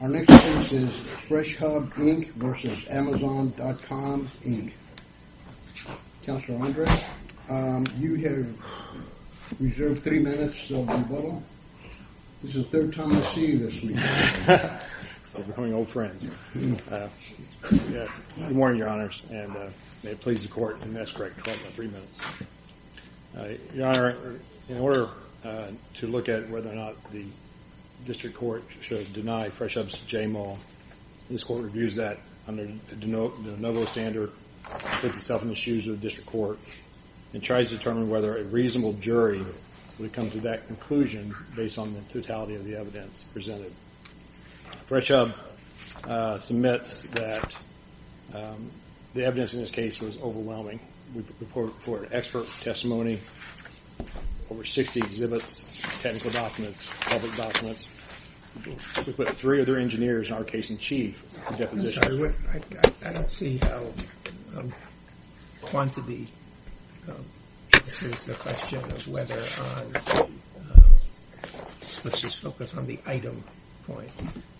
Our next case is FreshHub, Inc. v. Amazon.com, Inc. Counselor Andres, you have reserved three minutes of rebuttal. This is the third time I see you this week. We're becoming old friends. Good morning, Your Honors, and may it please the Court. And that's correct, three minutes. Your Honor, in order to look at whether or not the District Court should deny FreshHub's J. Mull, this Court reviews that under the de novo standard, puts itself in the shoes of the District Court, and tries to determine whether a reasonable jury would come to that conclusion based on the totality of the evidence presented. FreshHub submits that the evidence in this case was overwhelming. We report expert testimony, over 60 exhibits, technical documents, public documents. We put three other engineers, in our case in chief, in deposition. I'm sorry, I don't see how quantity, this is the question of whether, let's just focus on the item point,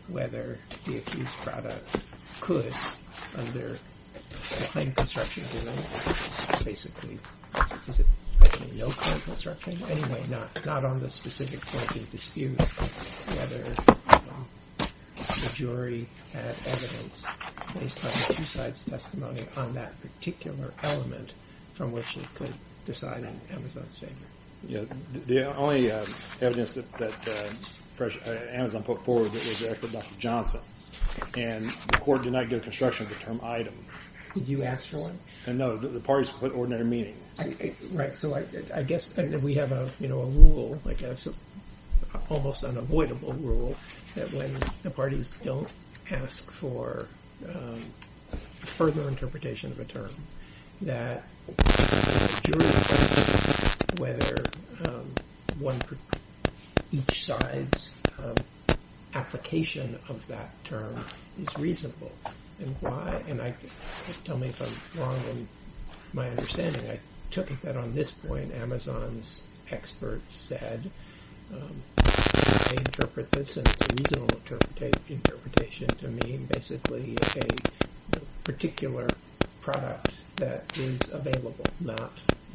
whether the accused product could, under the claim construction, basically, is it basically no claim construction? Anyway, not on the specific point of dispute, whether the jury had evidence based on the two sides' testimony on that particular element from which they could decide in Amazon's favor. The only evidence that Amazon put forward was the record of Dr. Johnson, and the Court did not give construction of the term item. Did you ask for one? No, the parties put ordinary meaning. Right, so I guess we have a rule, like an almost unavoidable rule, that the jury decides whether each side's application of that term is reasonable. And why? Tell me if I'm wrong in my understanding. I took it that on this point, Amazon's experts said, they interpret this, and it's a reasonable interpretation to me, as being basically a particular product that is available, not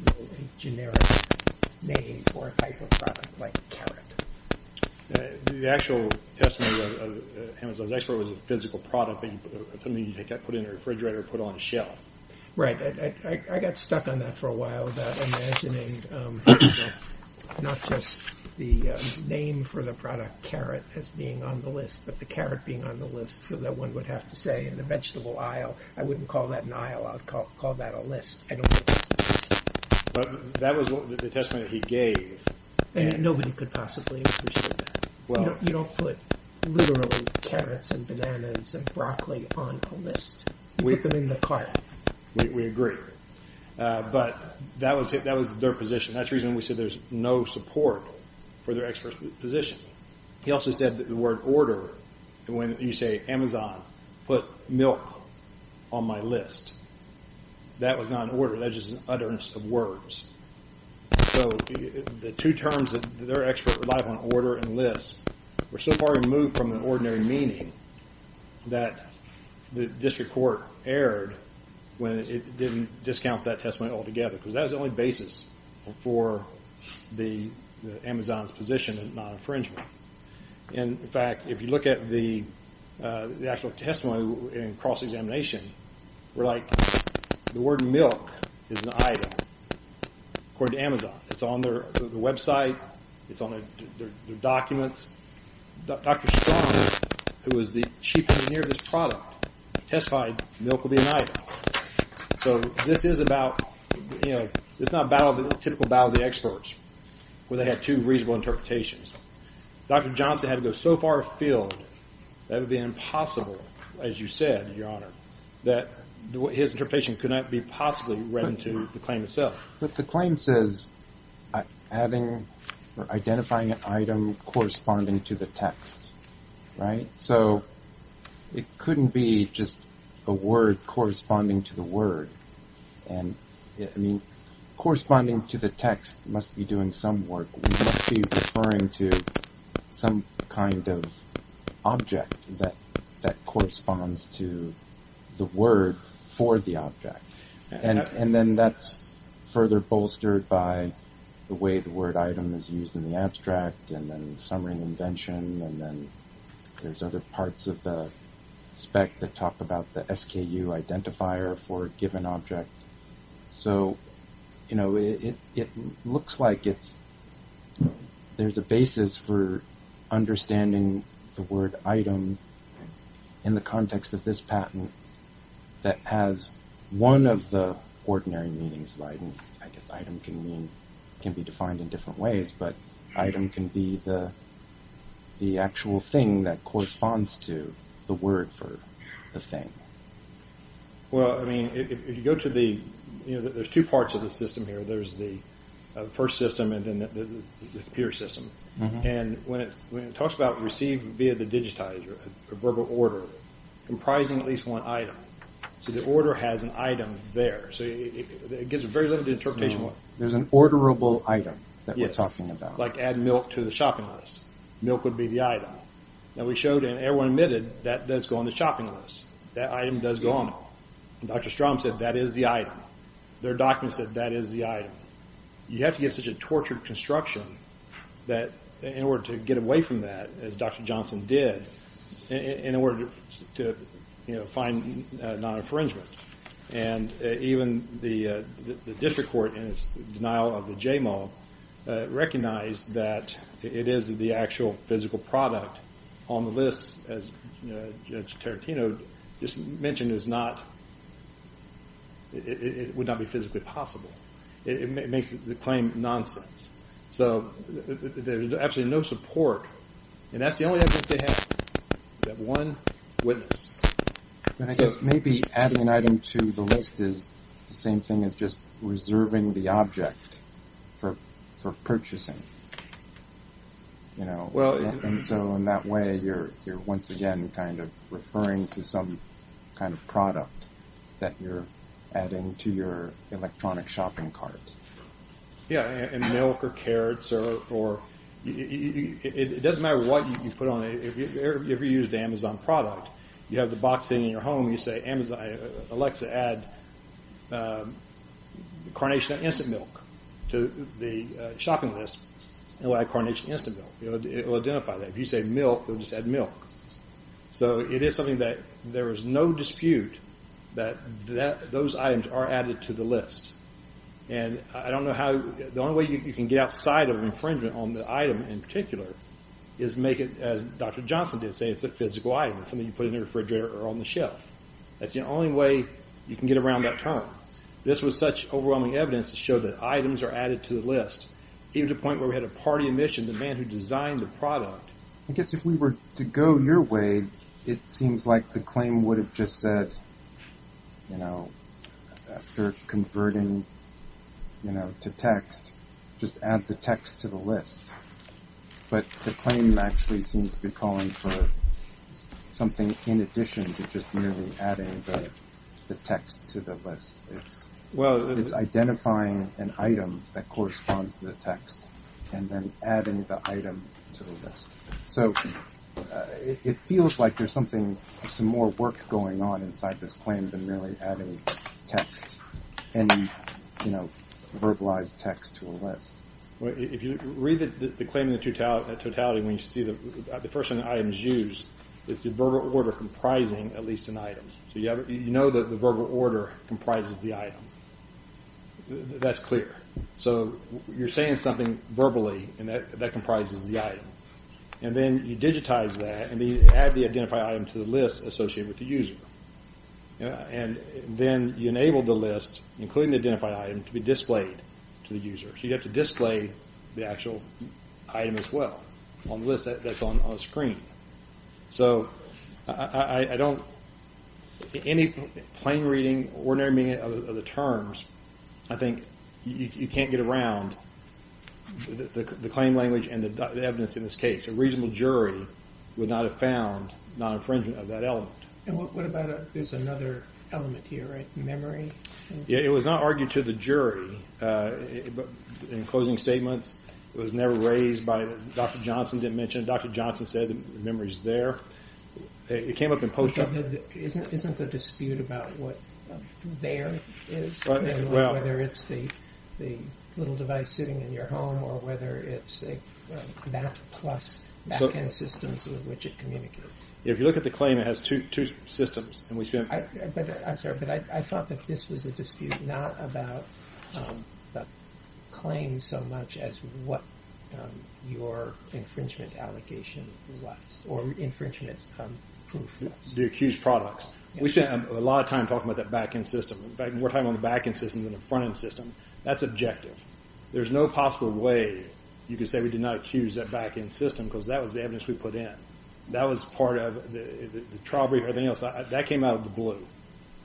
a generic name for a type of product like carrot. The actual testimony of Amazon's expert was a physical product, something you put in a refrigerator and put on a shelf. Right, I got stuck on that for a while, about imagining not just the name for the product carrot as being on the list, but the carrot being on the list, so that one would have to say in a vegetable aisle, I wouldn't call that an aisle, I'd call that a list. I don't think that's a list. But that was the testimony that he gave. And nobody could possibly have understood that. You don't put literally carrots and bananas and broccoli on a list. You put them in the cart. We agree. But that was their position. That's the reason we said there's no support for their expert's position. He also said that the word order, when you say Amazon, put milk on my list. That was not an order. That was just an utterance of words. So the two terms that their expert relied on, order and list, were so far removed from the ordinary meaning that the district court erred when it didn't discount that testimony altogether, because that was the only basis for Amazon's position of non-infringement. In fact, if you look at the actual testimony in cross-examination, we're like the word milk is an item, according to Amazon. It's on their website. It's on their documents. Dr. Strong, who was the chief engineer of this product, testified milk would be an item. So this is about, you know, it's not a typical battle of the experts where they have two reasonable interpretations. Dr. Johnson had to go so far afield that it would be impossible, as you said, Your Honor, that his interpretation could not be possibly read into the claim itself. But the claim says having or identifying an item corresponding to the text, right? So it couldn't be just a word corresponding to the word. And, I mean, corresponding to the text must be doing some work. It must be referring to some kind of object that corresponds to the word for the object. And then that's further bolstered by the way the word item is used in the abstract and then summary and invention. And then there's other parts of the spec that talk about the SKU identifier for a given object. So, you know, it looks like there's a basis for understanding the word item in the context of this patent that has one of the ordinary meanings of item. I guess item can mean, can be defined in different ways. But item can be the actual thing that corresponds to the word for the thing. Well, I mean, if you go to the, you know, there's two parts of the system here. There's the first system and then the peer system. And when it talks about receive via the digitizer, a verbal order comprising at least one item. So the order has an item there. So it gives a very limited interpretation. There's an orderable item that we're talking about. Yes, like add milk to the shopping list. Milk would be the item. And we showed and everyone admitted that does go on the shopping list. That item does go on it. And Dr. Strom said that is the item. Their document said that is the item. You have to give such a tortured construction that in order to get away from that, as Dr. Johnson did, in order to, you know, find non-infringement. And even the district court, in its denial of the JMO, recognized that it is the actual physical product on the list, as Judge Tarantino just mentioned, is not, it would not be physically possible. It makes the claim nonsense. So there's absolutely no support. And that's the only evidence they have, that one witness. And I guess maybe adding an item to the list is the same thing as just reserving the object for purchasing, you know. And so in that way, you're once again kind of referring to some kind of product that you're adding to your electronic shopping cart. Yeah, and milk or carrots or it doesn't matter what you put on it. If you use the Amazon product, you have the box sitting in your home, you say Alexa, add Carnation Instant Milk to the shopping list, it will add Carnation Instant Milk. It will identify that. If you say milk, it will just add milk. So it is something that there is no dispute that those items are added to the list. And I don't know how, the only way you can get outside of infringement on the item in particular is make it, as Dr. Johnson did say, it's a physical item. It's something you put in the refrigerator or on the shelf. That's the only way you can get around that term. This was such overwhelming evidence to show that items are added to the list, even to the point where we had a party in mission, the man who designed the product. I guess if we were to go your way, it seems like the claim would have just said, you know, after converting to text, just add the text to the list. But the claim actually seems to be calling for something in addition to just merely adding the text to the list. It's identifying an item that corresponds to the text and then adding the item to the list. So it feels like there's something, some more work going on inside this claim than merely adding text, any verbalized text to a list. If you read the claim in totality, when you see the first item is used, it's the verbal order comprising at least an item. So you know that the verbal order comprises the item. That's clear. So you're saying something verbally, and that comprises the item. And then you digitize that, and then you add the identified item to the list associated with the user. And then you enable the list, including the identified item, to be displayed to the user. So you have to display the actual item as well on the list that's on the screen. So I don't, any plain reading, ordinary reading of the terms, I think you can't get around the claim language and the evidence in this case. A reasonable jury would not have found non-infringement of that element. And what about, there's another element here, right? Memory? It was not argued to the jury in closing statements. It was never raised by, Dr. Johnson didn't mention it. Dr. Johnson said the memory's there. It came up in post-op. Isn't there a dispute about what there is, whether it's the little device sitting in your home or whether it's a Mac Plus back-end system with which it communicates? If you look at the claim, it has two systems. I'm sorry, but I thought that this was a dispute not about the claim so much as what your infringement allegation was or infringement proof was. The accused products. We spend a lot of time talking about that back-end system. In fact, we're talking about the back-end system than the front-end system. That's objective. There's no possible way you could say we did not accuse that back-end system because that was the evidence we put in. That was part of the trial brief or anything else. That came out of the blue,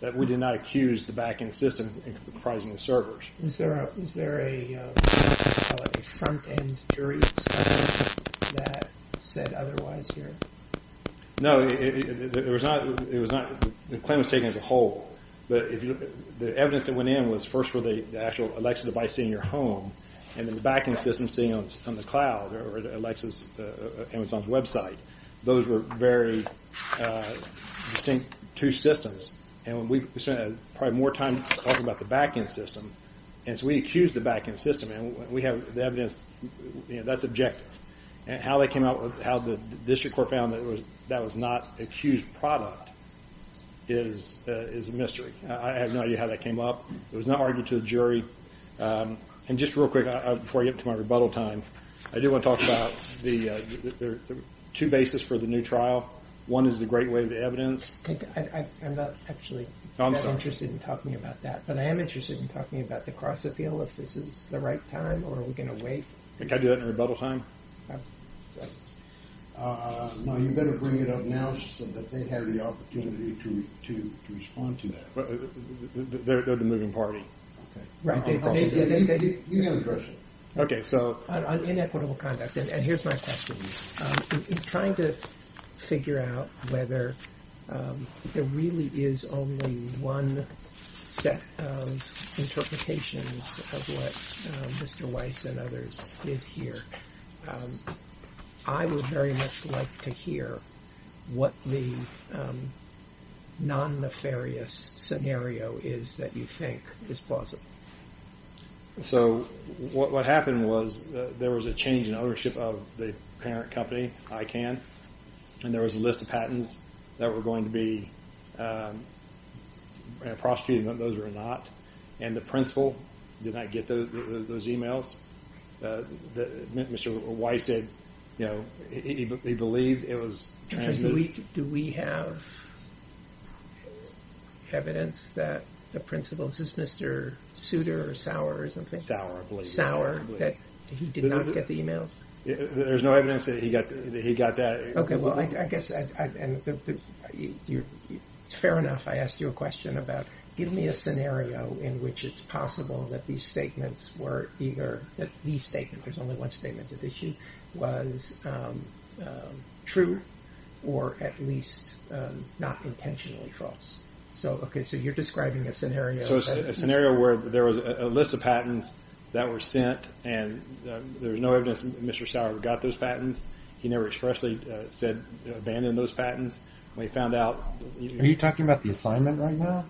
that we did not accuse the back-end system in comprising the servers. Is there a front-end jury that said otherwise here? No, the claim was taken as a whole. The evidence that went in was first for the actual Alexa device sitting in your home and then the back-end system sitting on the cloud or Amazon's website. Those were very distinct two systems. We spent probably more time talking about the back-end system. We accused the back-end system. We have the evidence. That's objective. How they came out with how the district court found that that was not accused product is a mystery. I have no idea how that came up. It was not argued to the jury. Just real quick, before I get to my rebuttal time, I do want to talk about the two bases for the new trial. One is the great wave evidence. I'm not actually that interested in talking about that, but I am interested in talking about the cross-appeal, if this is the right time or are we going to wait? Can I do that in rebuttal time? No, you better bring it up now so that they have the opportunity to respond to that. They're the moving party. You can address it. Okay, so... On inequitable conduct, and here's my question. In trying to figure out whether there really is only one set of interpretations of what Mr. Weiss and others did here, I would very much like to hear what the non-nefarious scenario is that you think is plausible. So what happened was there was a change in ownership of the parent company, ICANN, and there was a list of patents that were going to be prosecuted, and those were not. And the principal did not get those emails. Mr. Weiss said, you know, he believed it was... Do we have evidence that the principal... Is this Mr. Souter or Sauer or something? Sauer, I believe. Sauer, that he did not get the emails? There's no evidence that he got that. Okay, well, I guess... Fair enough, I asked you a question about give me a scenario in which it's possible that these statements were either... That these statements, there's only one statement at issue, was true or at least not intentionally false. So, okay, so you're describing a scenario... So it's a scenario where there was a list of patents that were sent, and there was no evidence that Mr. Sauer got those patents. He never expressly said, abandoned those patents. When he found out... Are you talking about the assignment right now?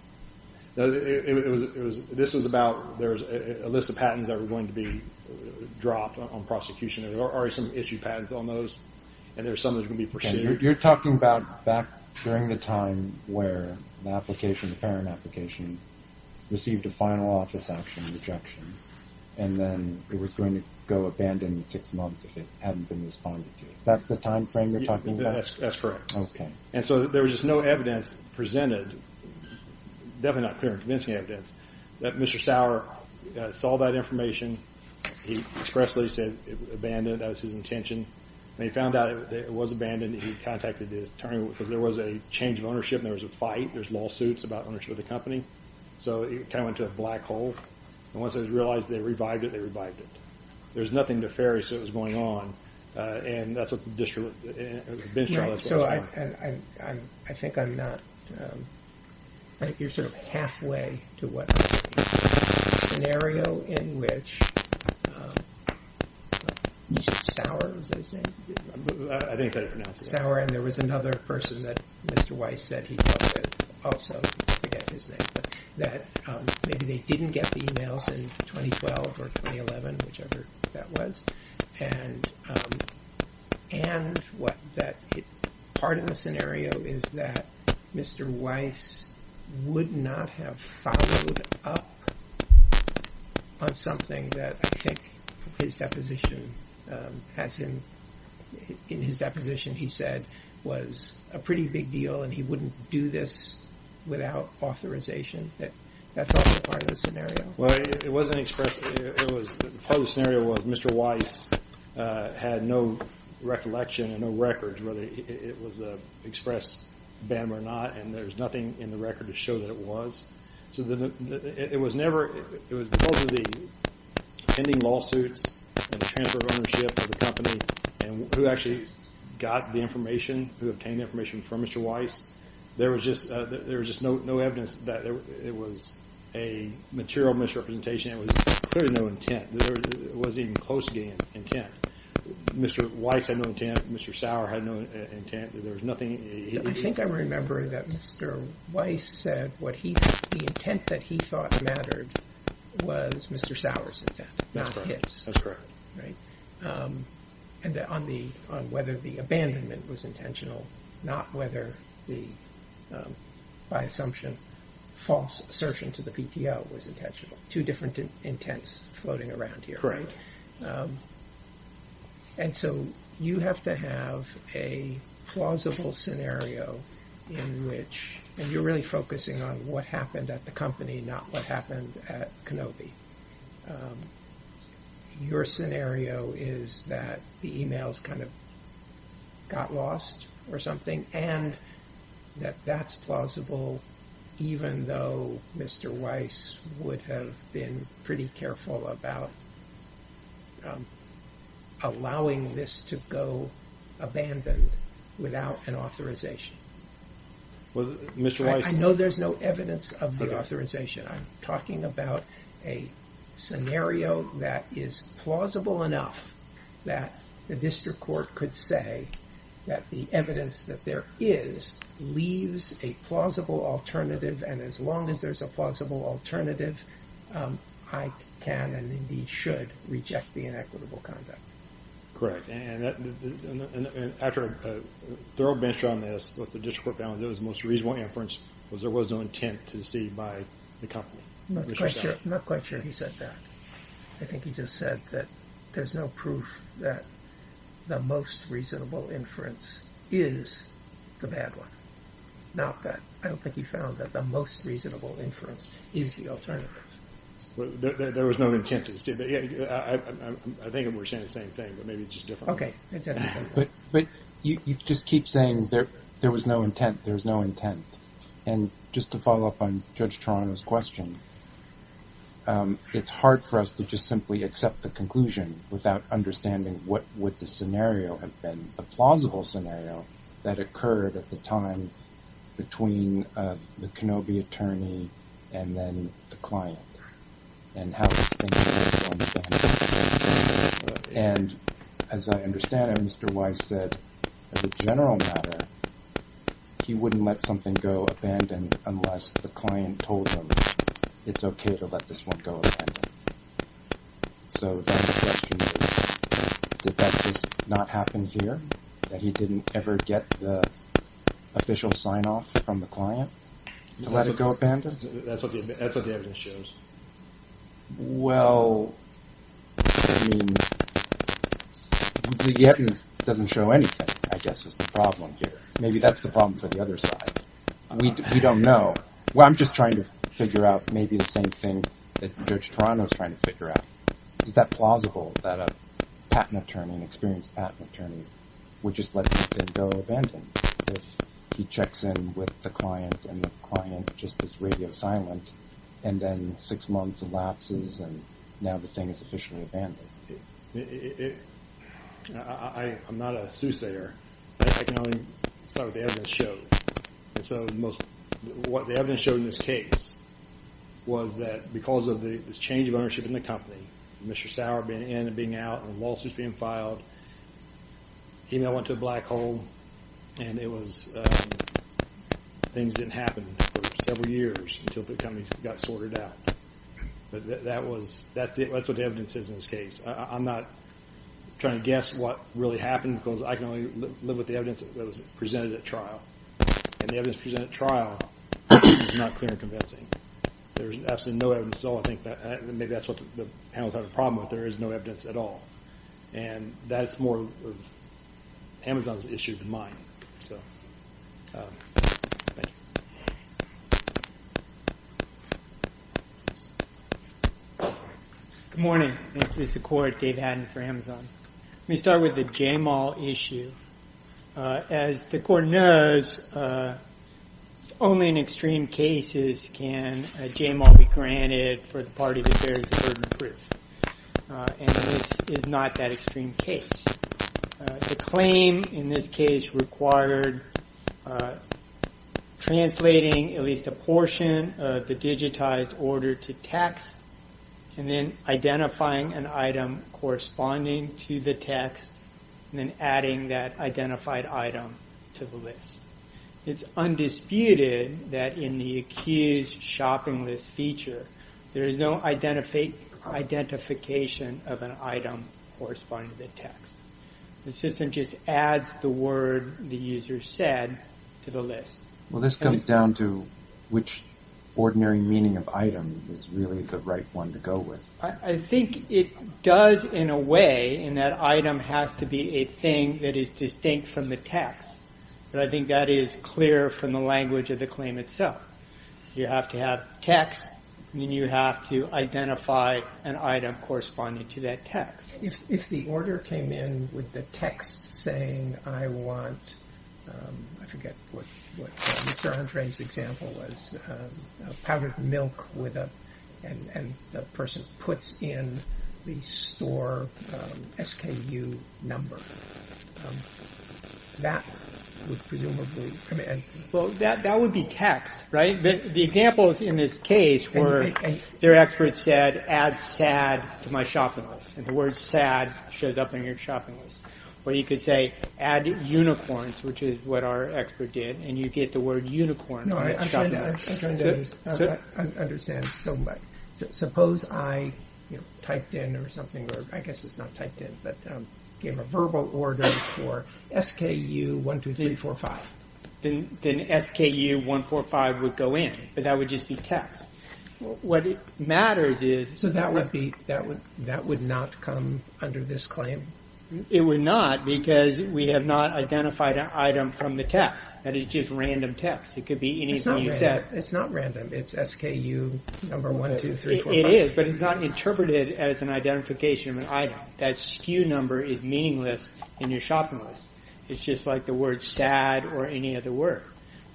No, this was about... There was a list of patents that were going to be dropped on prosecution. There were already some issue patents on those, and there were some that were going to be pursued. You're talking about back during the time where the application, the parent application, received a final office action rejection, and then it was going to go abandoned in six months if it hadn't been responded to. Is that the time frame you're talking about? Yeah, that's correct. Okay. And so there was just no evidence presented, definitely not clear and convincing evidence, that Mr. Sauer saw that information. He expressly said abandoned. That was his intention. When he found out that it was abandoned, he contacted the attorney because there was a change of ownership and there was a fight. There's lawsuits about ownership of the company. So it kind of went to a black hole. And once they realized they revived it, they revived it. There was nothing nefarious that was going on, and that's what the district was going to do. Right. So I think I'm not – you're sort of halfway to what I'm saying. There was a scenario in which – Sauer, was his name? I think that's how you pronounce it. Sauer, and there was another person that Mr. Weiss said he talked to also, I forget his name, that maybe they didn't get the emails in 2012 or 2011, whichever that was. And part of the scenario is that Mr. Weiss would not have followed up on something that I think his deposition has him – in his deposition he said was a pretty big deal and he wouldn't do this without authorization. That's also part of the scenario. Well, it wasn't expressed – part of the scenario was Mr. Weiss had no recollection and no records whether it was an expressed ban or not, and there was nothing in the record to show that it was. So it was never – it was because of the pending lawsuits and the transfer of ownership of the company and who actually got the information, who obtained the information from Mr. Weiss, there was just no evidence that it was a material misrepresentation. There was clearly no intent. There wasn't even close to getting an intent. Mr. Weiss had no intent. Mr. Sauer had no intent. There was nothing – I think I remember that Mr. Weiss said what he – the intent that he thought mattered was Mr. Sauer's intent, not his. That's correct. Right? And on the – on whether the abandonment was intentional, not whether the, by assumption, false assertion to the PTO was intentional. Two different intents floating around here, right? Correct. And so you have to have a plausible scenario in which – and you're really focusing on what happened at the company, not what happened at Kenobi. Your scenario is that the emails kind of got lost or something and that that's plausible even though Mr. Weiss would have been pretty careful about allowing this to go abandoned without an authorization. Well, Mr. Weiss – I know there's no evidence of the authorization. I'm talking about a scenario that is plausible enough that the district court could say that the evidence that there is leaves a plausible alternative and as long as there's a plausible alternative, I can and indeed should reject the inequitable conduct. Correct. And after a thorough bench on this, what the district court found that was the most reasonable inference was there was no intent to cede by the company. Not quite sure he said that. I think he just said that there's no proof that the most reasonable inference is the bad one. Not that. I don't think he found that the most reasonable inference is the alternative. There was no intent to cede. I think we're saying the same thing, but maybe it's just different. Okay. But you just keep saying there was no intent, there was no intent. And just to follow up on Judge Toronto's question, it's hard for us to just simply accept the conclusion without understanding what would the scenario have been, the plausible scenario that occurred at the time between the Kenobi attorney and then the client and how this thing is going to end. And as I understand it, Mr. Weiss said, as a general matter, he wouldn't let something go abandoned unless the client told him it's okay to let this one go abandoned. So that's the question. Did that just not happen here? That he didn't ever get the official sign-off from the client to let it go abandoned? That's what the evidence shows. Well, I mean, the evidence doesn't show anything, I guess, is the problem here. Maybe that's the problem for the other side. We don't know. Well, I'm just trying to figure out maybe the same thing that Judge Toronto's trying to figure out. Is that plausible that a patent attorney, an experienced patent attorney, would just let something go abandoned if he checks in with the client and the client just is radio silent and then six months elapses and now the thing is officially abandoned? I'm not a soothsayer. I can only say what the evidence showed. And so what the evidence showed in this case was that because of the change of ownership in the company, Mr. Sauer being in and being out and lawsuits being filed, email went to a black hole, and things didn't happen for several years until the company got sorted out. That's what the evidence is in this case. I'm not trying to guess what really happened because I can only live with the evidence that was presented at trial. And the evidence presented at trial is not clear and convincing. There's absolutely no evidence at all. Maybe that's what the panel's having a problem with. There is no evidence at all. And that's more of Amazon's issue than mine. Thank you. Good morning. This is the Court. Dave Hadden for Amazon. Let me start with the Jamal issue. As the Court knows, only in extreme cases can a Jamal be granted for the party that bears a certain proof. And this is not that extreme case. The claim in this case required translating at least a portion of the digitized order to text and then identifying an item corresponding to the text and then adding that identified item to the list. It's undisputed that in the accused shopping list feature, there is no identification of an item corresponding to the text. The system just adds the word the user said to the list. Well, this comes down to which ordinary meaning of item is really the right one to go with. I think it does, in a way, in that item has to be a thing that is distinct from the text. But I think that is clear from the language of the claim itself. You have to have text. Then you have to identify an item corresponding to that text. If the order came in with the text saying, I want, I forget what Mr. Andre's example was, powdered milk and the person puts in the store SKU number, that would presumably come in. Well, that would be text, right? The examples in this case were their expert said, add sad to my shopping list. And the word sad shows up in your shopping list. Or you could say, add unicorns, which is what our expert did, and you get the word unicorn. I'm trying to understand. Suppose I typed in or something, or I guess it's not typed in, but gave a verbal order for SKU 1, 2, 3, 4, 5. Then SKU 1, 4, 5 would go in. But that would just be text. What matters is... So that would not come under this claim? It would not because we have not identified an item from the text. That is just random text. It could be anything you said. It's not random. It's SKU number 1, 2, 3, 4, 5. It is, but it's not interpreted as an identification of an item. That SKU number is meaningless in your shopping list. It's just like the word sad or any other word.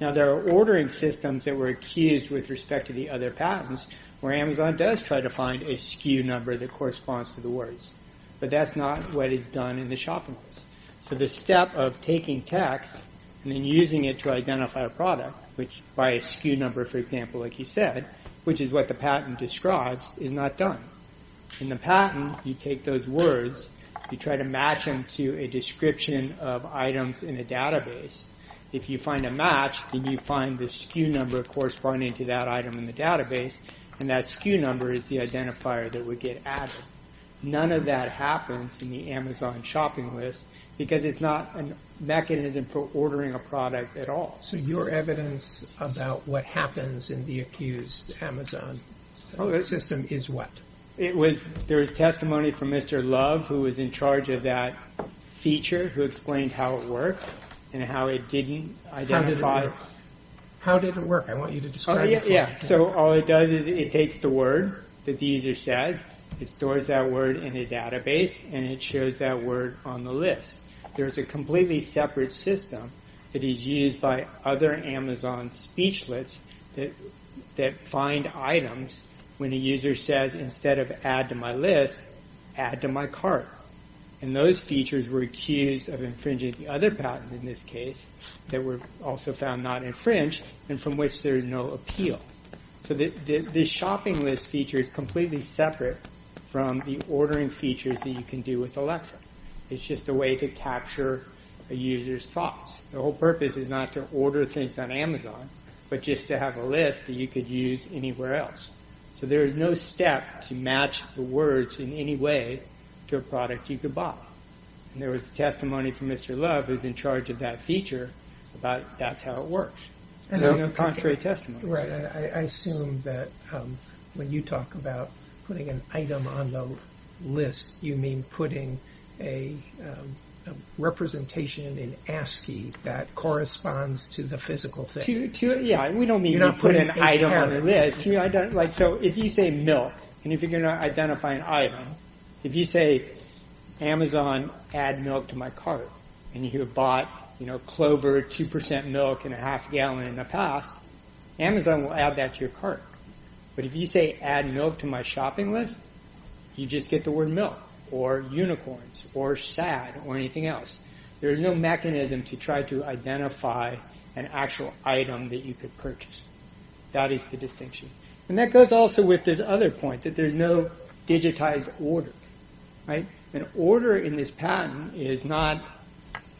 Now, there are ordering systems that were accused with respect to the other patents where Amazon does try to find a SKU number that corresponds to the words. But that's not what is done in the shopping list. So the step of taking text and then using it to identify a product, which by a SKU number, for example, like you said, which is what the patent describes, is not done. In the patent, you take those words. You try to match them to a description of items in a database. If you find a match, then you find the SKU number corresponding to that item in the database. And that SKU number is the identifier that would get added. None of that happens in the Amazon shopping list because it's not a mechanism for ordering a product at all. So your evidence about what happens in the accused Amazon system is what? There was testimony from Mr. Love, who was in charge of that feature, who explained how it worked and how it didn't identify. How did it work? I want you to describe it to me. So all it does is it takes the word that the user says, it stores that word in his database, and it shows that word on the list. There's a completely separate system that is used by other Amazon speechless that find items when a user says, instead of add to my list, add to my cart. And those features were accused of infringing the other patent in this case that were also found not infringed and from which there is no appeal. So this shopping list feature is completely separate from the ordering features that you can do with Alexa. It's just a way to capture a user's thoughts. The whole purpose is not to order things on Amazon, but just to have a list that you could use anywhere else. So there is no step to match the words in any way to a product you could buy. And there was testimony from Mr. Love, who's in charge of that feature, about that's how it works. Contrary testimony. I assume that when you talk about putting an item on the list, you mean putting a representation in ASCII that corresponds to the physical thing. Yeah, we don't mean to put an item on the list. So if you say milk, and if you're going to identify an item, if you say, Amazon, add milk to my cart, and you have bought Clover 2% milk and a half gallon in the past, Amazon will add that to your cart. But if you say, add milk to my shopping list, you just get the word milk, or unicorns, or sad, or anything else. There's no mechanism to try to identify an actual item that you could purchase. That is the distinction. And that goes also with this other point, that there's no digitized order. An order in this patent is not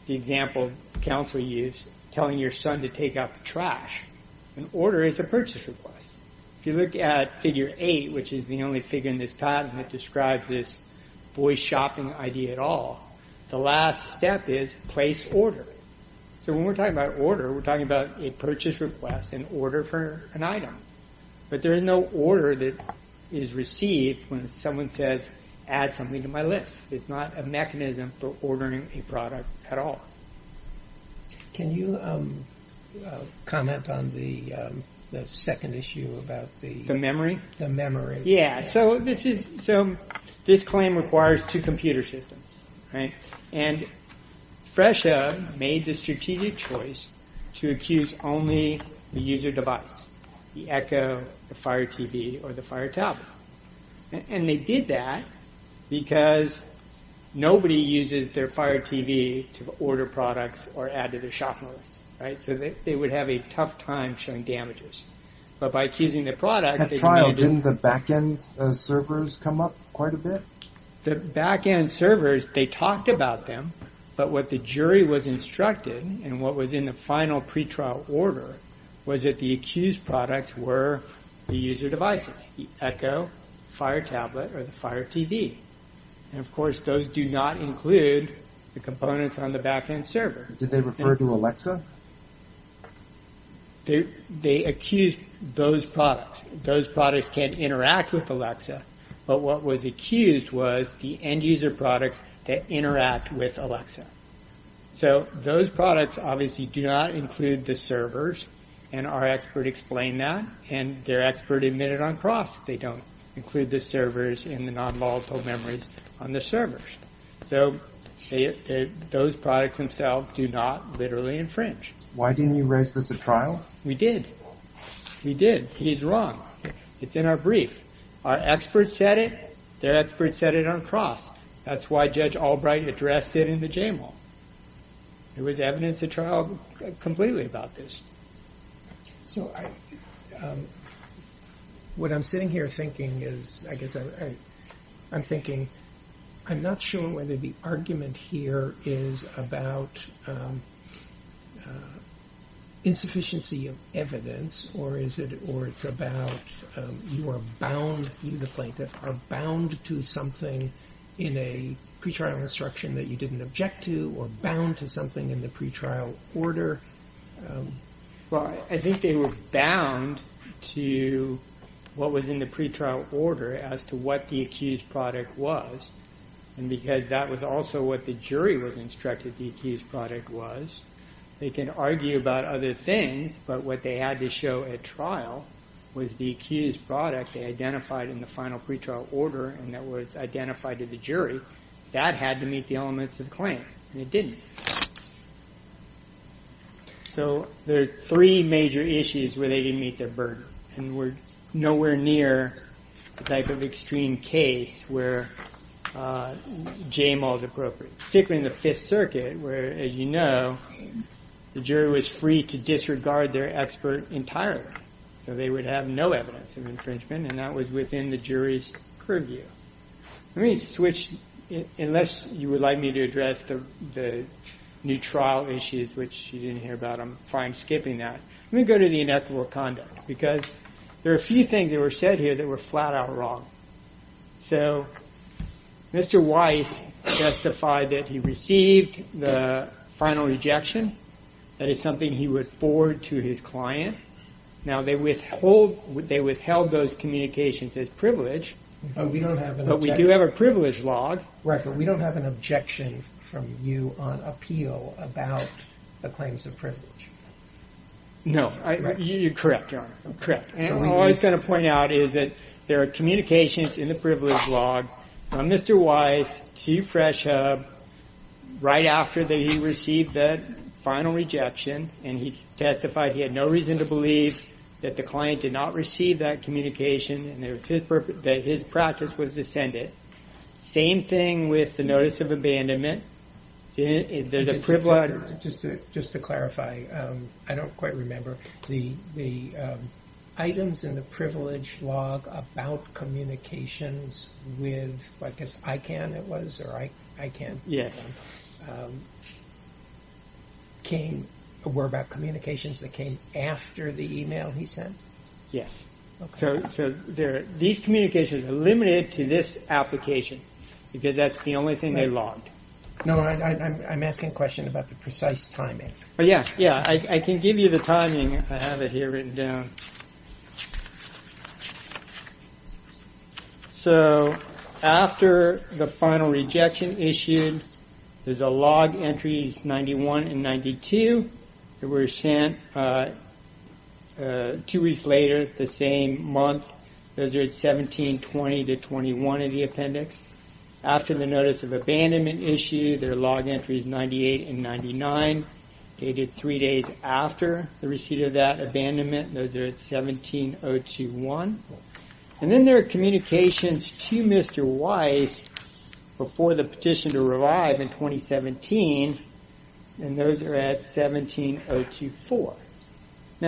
the example counsel use, telling your son to take out the trash. An order is a purchase request. If you look at Figure 8, which is the only figure in this patent that describes this voice shopping idea at all, the last step is place order. So when we're talking about order, we're talking about a purchase request in order for an item. But there is no order that is received when someone says, add something to my list. It's not a mechanism for ordering a product at all. Can you comment on the second issue about the memory? Yeah, so this claim requires two computer systems. And Fresha made the strategic choice to accuse only the user device, the Echo, the Fire TV, or the Fire Tablet. And they did that because nobody uses their Fire TV to order products or add to their shopping list, right? So they would have a tough time showing damages. But by accusing the product, they can do it. At trial, didn't the back-end servers come up quite a bit? The back-end servers, they talked about them. But what the jury was instructed, and what was in the final pretrial order, was that the accused products were the user devices, the Echo, Fire Tablet, or the Fire TV. And, of course, those do not include the components on the back-end server. Did they refer to Alexa? They accused those products. Those products can interact with Alexa. But what was accused was the end-user products that interact with Alexa. So those products obviously do not include the servers. And our expert explained that. And their expert admitted on cross they don't include the servers and the non-volatile memories on the servers. So those products themselves do not literally infringe. Why didn't you raise this at trial? We did. We did. He's wrong. It's in our brief. Our experts said it. Their experts said it on cross. That's why Judge Albright addressed it in the J-Mall. There was evidence at trial completely about this. So what I'm sitting here thinking is, I guess I'm thinking, I'm not sure whether the argument here is about insufficiency of evidence or it's about you are bound, you the plaintiff, are bound to something in a pretrial instruction that you didn't object to or bound to something in the pretrial order. Well, I think they were bound to what was in the pretrial order as to what the accused product was. And because that was also what the jury was instructed the accused product was. They can argue about other things. But what they had to show at trial was the accused product they identified in the final pretrial order and that was identified to the jury. That had to meet the elements of the claim and it didn't. So there are three major issues where they didn't meet their burden and we're nowhere near the type of extreme case where J-Mall is appropriate. Particularly in the Fifth Circuit where, as you know, the jury was free to disregard their expert entirely. So they would have no evidence of infringement and that was within the jury's purview. Let me switch. Unless you would like me to address the new trial issues, which you didn't hear about, I'm fine skipping that. Let me go to the inequitable conduct because there are a few things that were said here that were flat out wrong. So Mr. Weiss justified that he received the final rejection. That is something he would forward to his client. Now they withheld those communications as privilege. We don't have an objection. But we do have a privilege log. Right, but we don't have an objection from you on appeal about the claims of privilege. No. You're correct, Your Honor. I'm correct. All I was going to point out is that there are communications in the privilege log from Mr. Weiss to Fresh Hub right after he received the final rejection and he testified he had no reason to believe that the client did not receive that communication and that his practice was to send it. Same thing with the notice of abandonment. Just to clarify, I don't quite remember. The items in the privilege log about communications with, I guess ICANN it was, or ICANN, were about communications that came after the email he sent? Yes. So these communications are limited to this application because that's the only thing they logged. No, I'm asking a question about the precise timing. Yeah, I can give you the timing. I have it here written down. So after the final rejection issued, there's a log entries 91 and 92 that were sent two weeks later, the same month. Those are at 1720 to 21 in the appendix. After the notice of abandonment issued, there are log entries 98 and 99 dated three days after the receipt of that abandonment. Those are at 17021. And then there are communications to Mr. Weiss before the petition to revive in 2017, and those are at 17024.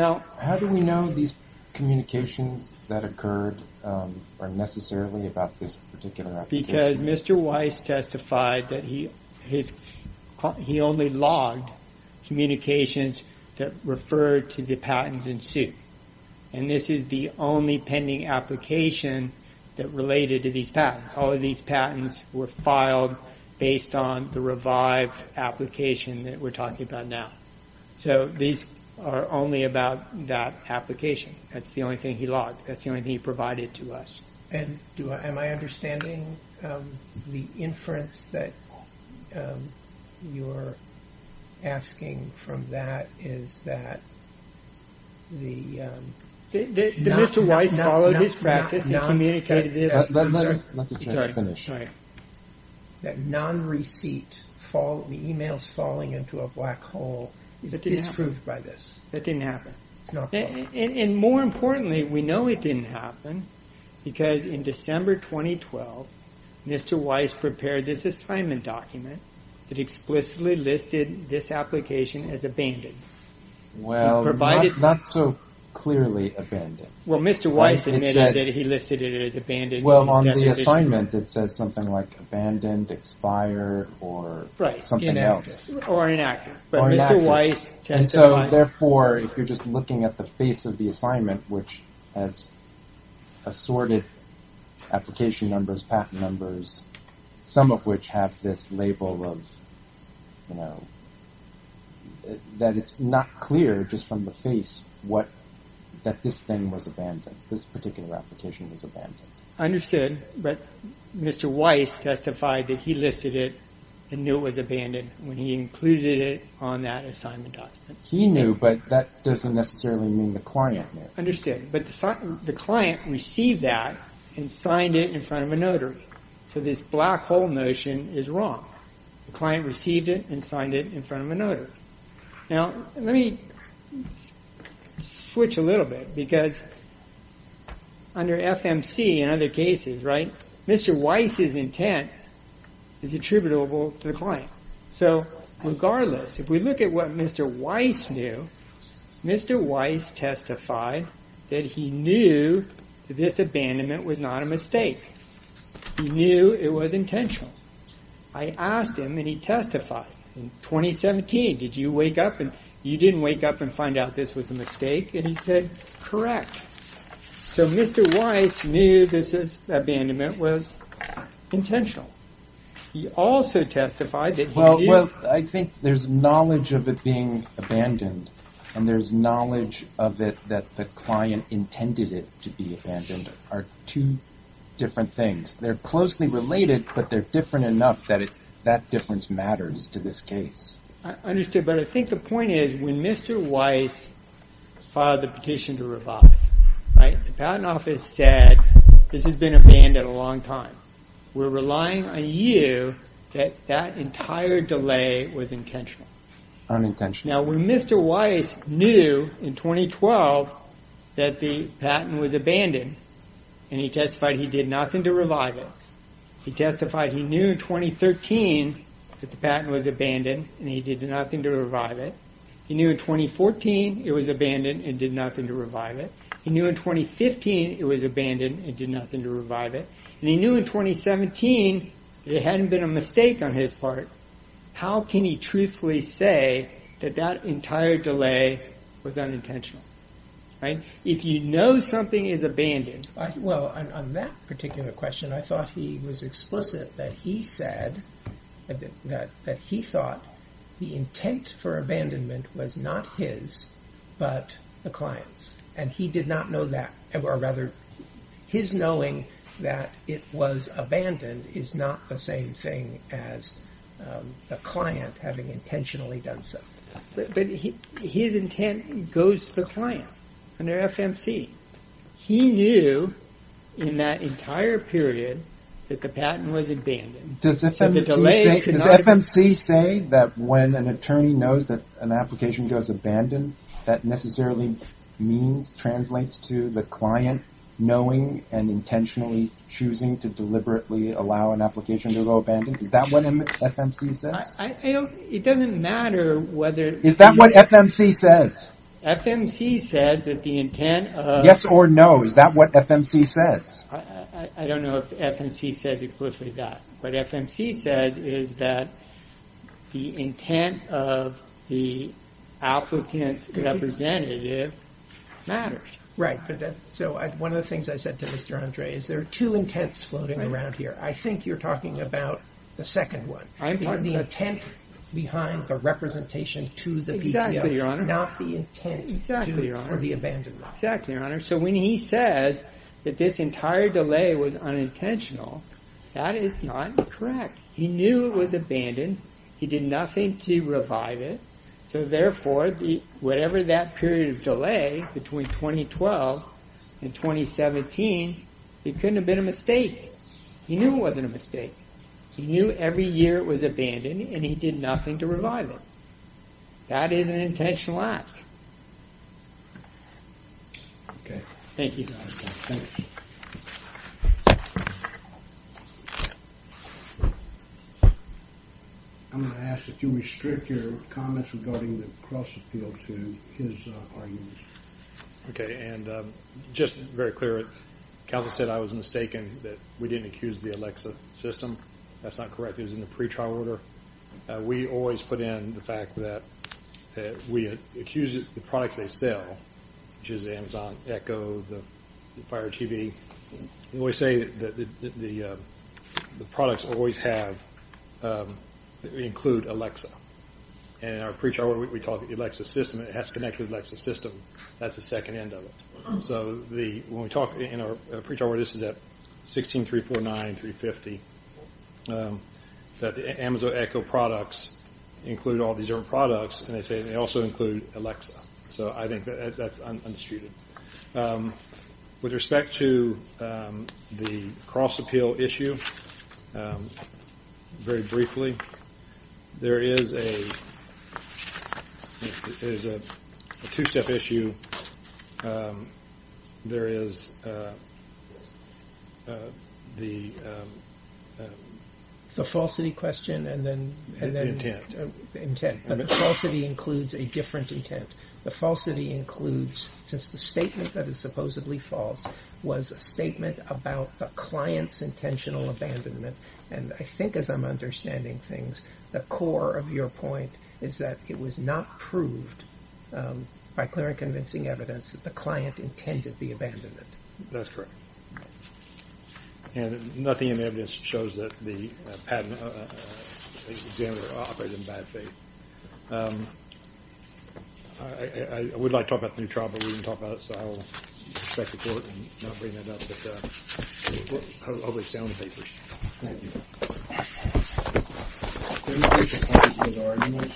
How do we know these communications that occurred are necessarily about this particular application? Because Mr. Weiss testified that he only logged communications that referred to the patents in suit, and this is the only pending application that related to these patents. All of these patents were filed based on the revived application that we're talking about now. So these are only about that application. That's the only thing he logged. That's the only thing he provided to us. Am I understanding the inference that you're asking from that is that the— I'm sorry. That non-receipt, the emails falling into a black hole, is disproved by this. That didn't happen. And more importantly, we know it didn't happen because in December 2012, Mr. Weiss prepared this assignment document that explicitly listed this application as abandoned. Well, not so clearly abandoned. Well, Mr. Weiss admitted that he listed it as abandoned. Well, on the assignment, it says something like abandoned, expired, or something else. Right, or inaccurate. But Mr. Weiss testified— And so therefore, if you're just looking at the face of the assignment, which has assorted application numbers, patent numbers, some of which have this label of, you know, that it's not clear just from the face that this thing was abandoned, this particular application was abandoned. Understood. But Mr. Weiss testified that he listed it and knew it was abandoned when he included it on that assignment document. He knew, but that doesn't necessarily mean the client knew. Understood. But the client received that and signed it in front of a notary. So this black hole notion is wrong. The client received it and signed it in front of a notary. Now, let me switch a little bit, because under FMC and other cases, right, Mr. Weiss's intent is attributable to the client. So regardless, if we look at what Mr. Weiss knew, Mr. Weiss testified that he knew this abandonment was not a mistake. He knew it was intentional. I asked him and he testified in 2017, did you wake up and you didn't wake up and find out this was a mistake? And he said, correct. So Mr. Weiss knew this abandonment was intentional. He also testified that he knew. Well, I think there's knowledge of it being abandoned and there's knowledge of it that the client intended it to be abandoned are two different things. They're closely related, but they're different enough that that difference matters to this case. I understood, but I think the point is, when Mr. Weiss filed the petition to revive, right, the Patent Office said this has been abandoned a long time. We're relying on you that that entire delay was intentional. Unintentional. And he testified he did nothing to revive it. He testified he knew in 2013 that the patent was abandoned and he did nothing to revive it. He knew in 2014 it was abandoned and did nothing to revive it. He knew in 2015 it was abandoned and did nothing to revive it. And he knew in 2017 that it hadn't been a mistake on his part. How can he truthfully say that that entire delay was unintentional? If you know something is abandoned... Well, on that particular question, I thought he was explicit that he said that he thought the intent for abandonment was not his, but the client's. And he did not know that. Or rather, his knowing that it was abandoned is not the same thing as the client having intentionally done so. But his intent goes to the client under FMC. He knew in that entire period that the patent was abandoned. Does FMC say that when an attorney knows that an application goes abandoned, that necessarily means, translates to the client knowing and intentionally choosing to deliberately allow an application to go abandoned? Is that what FMC says? It doesn't matter whether... Is that what FMC says? FMC says that the intent of... Yes or no, is that what FMC says? I don't know if FMC says explicitly that. What FMC says is that the intent of the applicant's representative matters. Right, so one of the things I said to Mr. Andre is there are two intents floating around here. I think you're talking about the second one. The intent behind the representation to the PTO. Exactly, Your Honor. Not the intent for the abandonment. Exactly, Your Honor. So when he says that this entire delay was unintentional, that is not correct. He knew it was abandoned. He did nothing to revive it. So therefore, whatever that period of delay between 2012 and 2017, it couldn't have been a mistake. He knew it wasn't a mistake. He knew every year it was abandoned, and he did nothing to revive it. That is an intentional act. Okay. Thank you. Thank you. I'm going to ask that you restrict your comments regarding the cross appeal to his arguments. Okay, and just very clear, counsel said I was mistaken that we didn't accuse the Alexa system. That's not correct. It was in the pretrial order. We always put in the fact that we accused the products they sell, which is the Amazon Echo, the Fire TV. We always say that the products we always have include Alexa. And in our pretrial order, we call it the Alexa system. It has to connect to the Alexa system. That's the second end of it. So when we talk in our pretrial order, this is at 16349-350, that the Amazon Echo products include all these different products, and they say they also include Alexa. So I think that's undistuted. With respect to the cross appeal issue, very briefly, there is a two-step issue. The falsity question and then the intent. But the falsity includes a different intent. The falsity includes, since the statement that is supposedly false was a statement about a client's intentional abandonment, and I think as I'm understanding things, the core of your point is that it was not proved by clear and convincing evidence that the client intended the abandonment. That's correct. And nothing in the evidence shows that the patent examiner operated in bad faith. I would like to talk about the new trial, but we didn't talk about it, so I'll expect the court will not bring that up, but I'll make sound papers. Thank you.